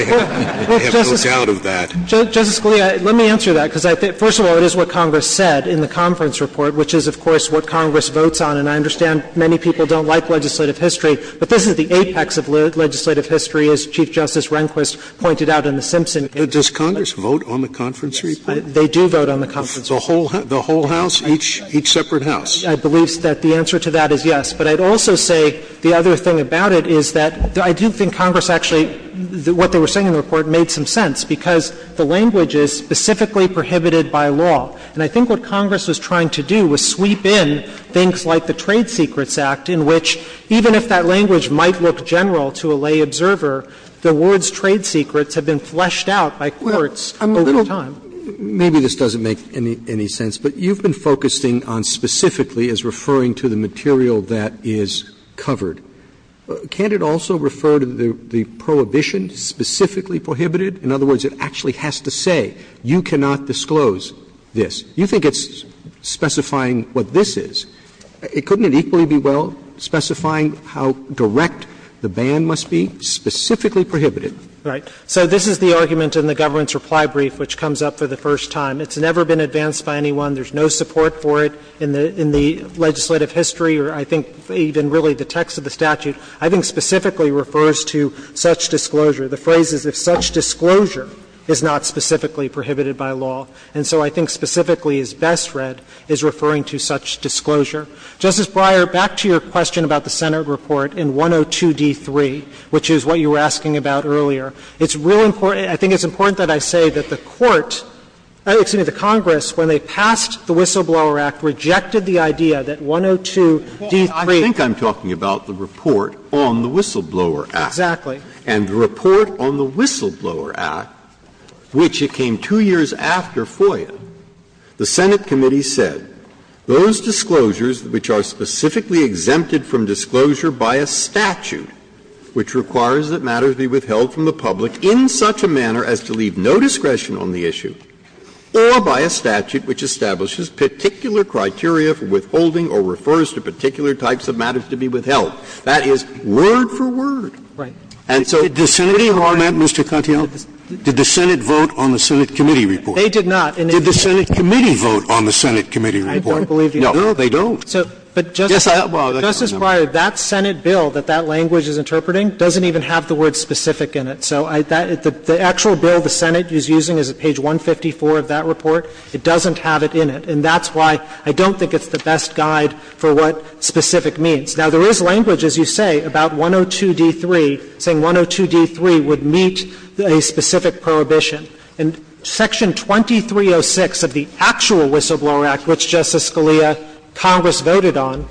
have no doubt of that. Justice Scalia, let me answer that, because I think, first of all, it is what Congress said in the conference report, which is, of course, what Congress votes on. And I understand many people don't like legislative history, but this is the apex of legislative history, as Chief Justice Rehnquist pointed out in the Simpson case. But does Congress vote on the conference report? They do vote on the conference report. The whole House? Each separate House? I believe that the answer to that is yes. But I'd also say the other thing about it is that I do think Congress actually what they were saying in the report made some sense, because the language is specifically prohibited by law. And I think what Congress was trying to do was sweep in things like the Trade Secrets Act, in which, even if that language might look general to a lay observer, the word's trade secrets have been fleshed out by courts over time. Maybe this doesn't make any sense, but you've been focusing on specifically as referring to the material that is covered. Can't it also refer to the prohibition specifically prohibited? In other words, it actually has to say, you cannot disclose this. You think it's specifying what this is. Couldn't it equally be well specifying how direct the ban must be, specifically prohibited? Right. So this is the argument in the government's reply brief which comes up for the first time. It's never been advanced by anyone. There's no support for it in the legislative history or I think even really the text of the statute. I think specifically refers to such disclosure. The phrase is, if such disclosure is not specifically prohibited by law. And so I think specifically is best read, is referring to such disclosure. Justice Breyer, back to your question about the Senate report in 102d3, which is what you were asking about earlier. It's really important, I think it's important that I say that the Court, excuse me, the Congress, when they passed the Whistleblower Act, rejected the idea that 102d3. Breyer, I think I'm talking about the report on the Whistleblower Act. Exactly. And the report on the Whistleblower Act, which it came two years after FOIA, the Senate committee said, those disclosures which are specifically exempted from disclosure by a statute which requires that matters be withheld from the public in such a manner as to leave no discretion on the issue, or by a statute which establishes particular criteria for withholding or refers to particular types of matters to be withheld. That is word for word. Right. And so, the Senate committee. Did the Senate vote on the Senate committee report? They did not. And if the Senate committee vote on the Senate committee report? I don't believe they do. No, they don't. Yes, I do. Justice Breyer, that Senate bill that that language is interpreting doesn't even have the word specific in it. So the actual bill the Senate is using is at page 154 of that report. It doesn't have it in it. And that's why I don't think it's the best guide for what specific means. Now, there is language, as you say, about 102d3, saying 102d3 would meet a specific prohibition. And Section 2306 of the actual Whistleblower Act, which, Justice Scalia, Congress voted on,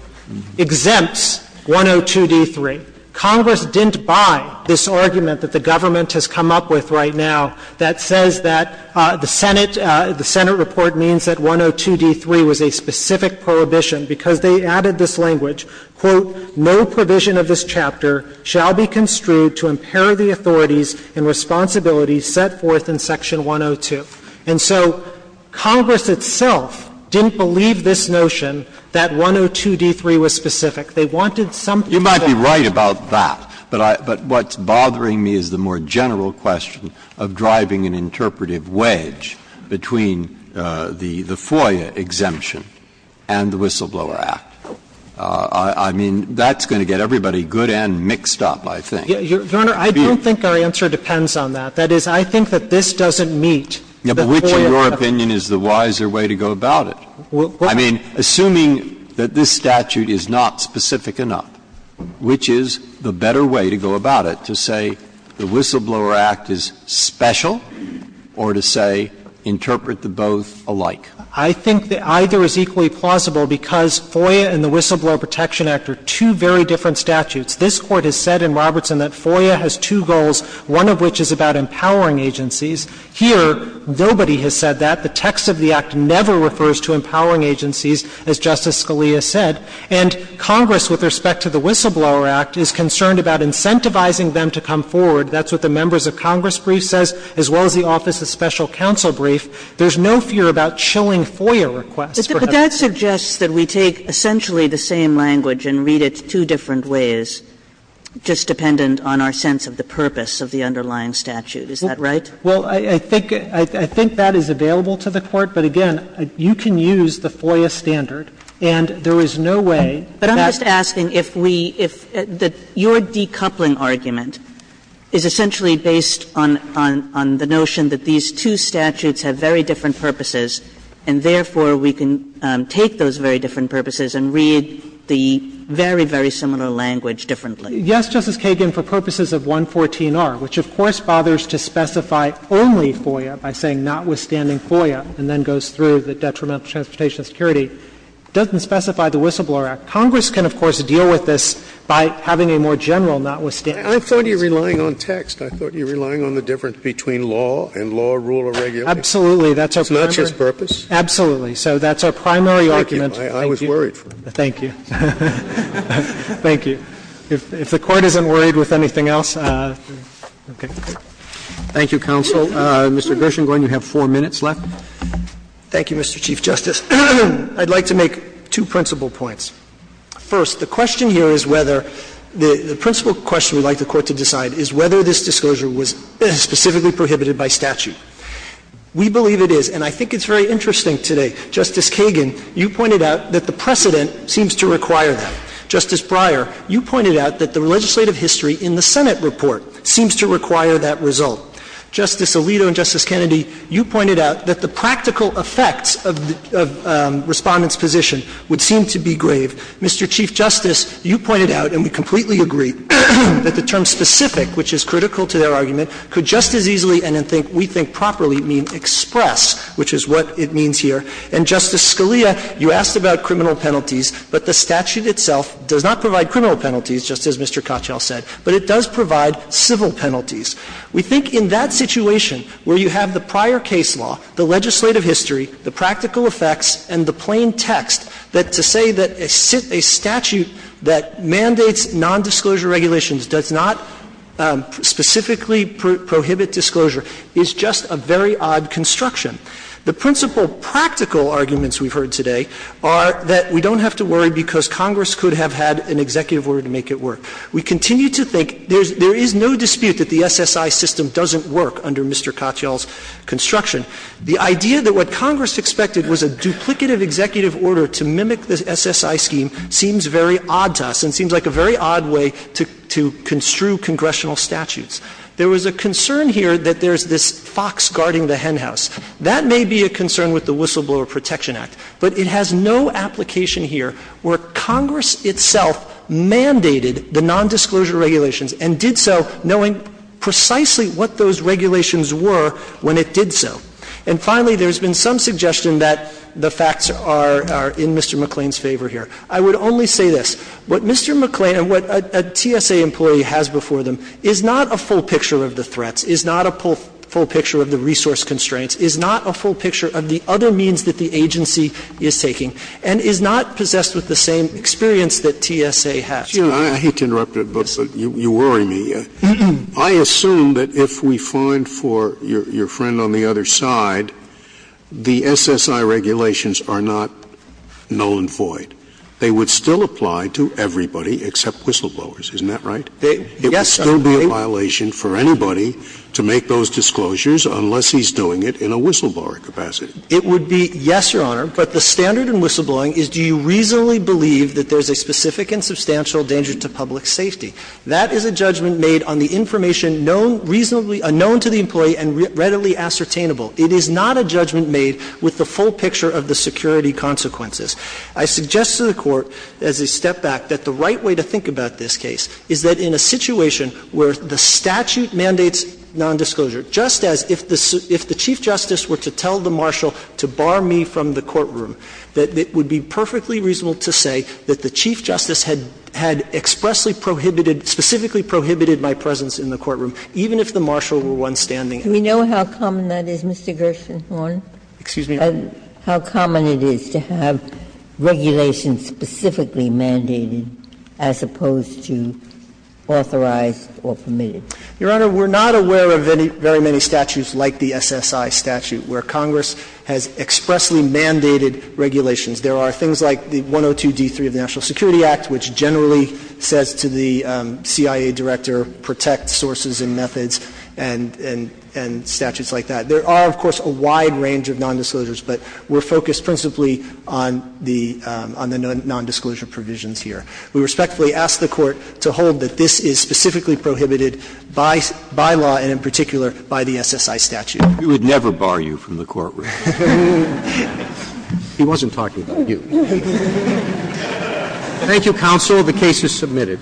exempts 102d3. Congress didn't buy this argument that the government has come up with right now that says that the Senate, the Senate report means that 102d3 was a specific prohibition because they added this language, quote, no provision of this chapter shall be construed to impair the authorities and responsibilities set forth in Section 102. And so Congress itself didn't believe this notion that 102d3 was specific. They wanted something that was specific. You might be right about that. But I — but what's bothering me is the more general question of driving an interpretive wedge between the FOIA exemption and the Whistleblower Act. I mean, that's going to get everybody good and mixed up, I think. Your Honor, I don't think our answer depends on that. That is, I think that this doesn't meet the FOIA. Yeah, but which, in your opinion, is the wiser way to go about it? I mean, assuming that this statute is not specific enough, which is the better way to go about it, to say the Whistleblower Act is special or to say interpret the both alike? I think that either is equally plausible because FOIA and the Whistleblower Protection Act are two very different statutes. This Court has said in Robertson that FOIA has two goals, one of which is about empowering agencies. Here, nobody has said that. The text of the Act never refers to empowering agencies, as Justice Scalia said. And Congress, with respect to the Whistleblower Act, is concerned about incentivizing them to come forward. That's what the members of Congress brief says, as well as the Office of Special Counsel brief. There's no fear about chilling FOIA requests. But that suggests that we take essentially the same language and read it two different ways, just dependent on our sense of the purpose of the underlying statute. Is that right? Well, I think that is available to the Court, but, again, you can use the FOIA standard. And there is no way that's going to be the same as the Whistleblower Protection Act. But I'm just asking if we – if your decoupling argument is essentially based on the notion that these two statutes have very different purposes, and therefore we can take those very different purposes and read the very, very similar language differently. Yes, Justice Kagan, for purposes of 114R, which, of course, bothers to specify only FOIA by saying notwithstanding FOIA, and then goes through the detrimental transportation security, doesn't specify the Whistleblower Act. Congress can, of course, deal with this by having a more general notwithstanding statute. I thought you were relying on text. I thought you were relying on the difference between law and law, rule, or regulation. Absolutely. That's our primary – It's not just purpose? Absolutely. So that's our primary argument. Thank you. I was worried for a minute. Thank you. Thank you. If the Court isn't worried with anything else, okay. Thank you, counsel. Mr. Gershengorn, you have four minutes left. Thank you, Mr. Chief Justice. I'd like to make two principal points. First, the question here is whether – the principal question we'd like the Court to decide is whether this disclosure was specifically prohibited by statute. We believe it is, and I think it's very interesting today. Justice Kagan, you pointed out that the precedent seems to require that. Justice Breyer, you pointed out that the legislative history in the Senate report seems to require that result. Justice Alito and Justice Kennedy, you pointed out that the practical effects of Respondent's position would seem to be grave. Mr. Chief Justice, you pointed out, and we completely agree, that the term specific, which is critical to their argument, could just as easily and, we think, properly mean express, which is what it means here. And, Justice Scalia, you asked about criminal penalties, but the statute itself does not provide criminal penalties, just as Mr. Kochel said, but it does provide civil penalties. We think in that situation, where you have the prior case law, the legislative history, the practical effects, and the plain text, that to say that a statute that mandates nondisclosure regulations does not specifically prohibit disclosure is just a very odd construction. The principal practical arguments we've heard today are that we don't have to worry because Congress could have had an executive order to make it work. We continue to think there is no dispute that the SSI system doesn't work under Mr. Kochel's construction. The idea that what Congress expected was a duplicative executive order to mimic the SSI scheme seems very odd to us and seems like a very odd way to construe congressional statutes. There was a concern here that there's this fox guarding the henhouse. That may be a concern with the Whistleblower Protection Act, but it has no application here where Congress itself mandated the nondisclosure regulations and did so knowing precisely what those regulations were when it did so. And finally, there's been some suggestion that the facts are in Mr. McClain's favor here. I would only say this. What Mr. McClain and what a TSA employee has before them is not a full picture of the threats, is not a full picture of the resource constraints, is not a full that TSA has before them. It's not possessed with the same experience that TSA has. Scalia, I hate to interrupt you, but you worry me. I assume that if we find for your friend on the other side, the SSI regulations are not null and void. They would still apply to everybody except whistleblowers, isn't that right? Yes, Your Honor. It would be a violation for anybody to make those disclosures unless he's doing it in a whistleblower capacity. It would be, yes, Your Honor, but the standard in whistleblowing is do you reasonably believe that there's a specific and substantial danger to public safety. That is a judgment made on the information known reasonably to the employee and readily ascertainable. It is not a judgment made with the full picture of the security consequences. I suggest to the Court as a step back that the right way to think about this case is that in a situation where the statute mandates nondisclosure, just as if the chief justice were to tell the marshal to bar me from the courtroom, that it would be perfectly reasonable to say that the chief justice had expressly prohibited, specifically prohibited my presence in the courtroom, even if the marshal were one standing. Do we know how common that is, Mr. Gershengorn? Excuse me? How common it is to have regulations specifically mandated as opposed to authorized or permitted? Your Honor, we're not aware of any very many statutes like the SSI statute, where Congress has expressly mandated regulations. There are things like the 102d3 of the National Security Act, which generally says to the CIA director, protect sources and methods, and statutes like that. There are, of course, a wide range of nondisclosures, but we're focused principally on the nondisclosure provisions here. We respectfully ask the Court to hold that this is specifically prohibited by law and in particular by the SSI statute. We would never bar you from the courtroom. He wasn't talking about you. Thank you, counsel. The case is submitted.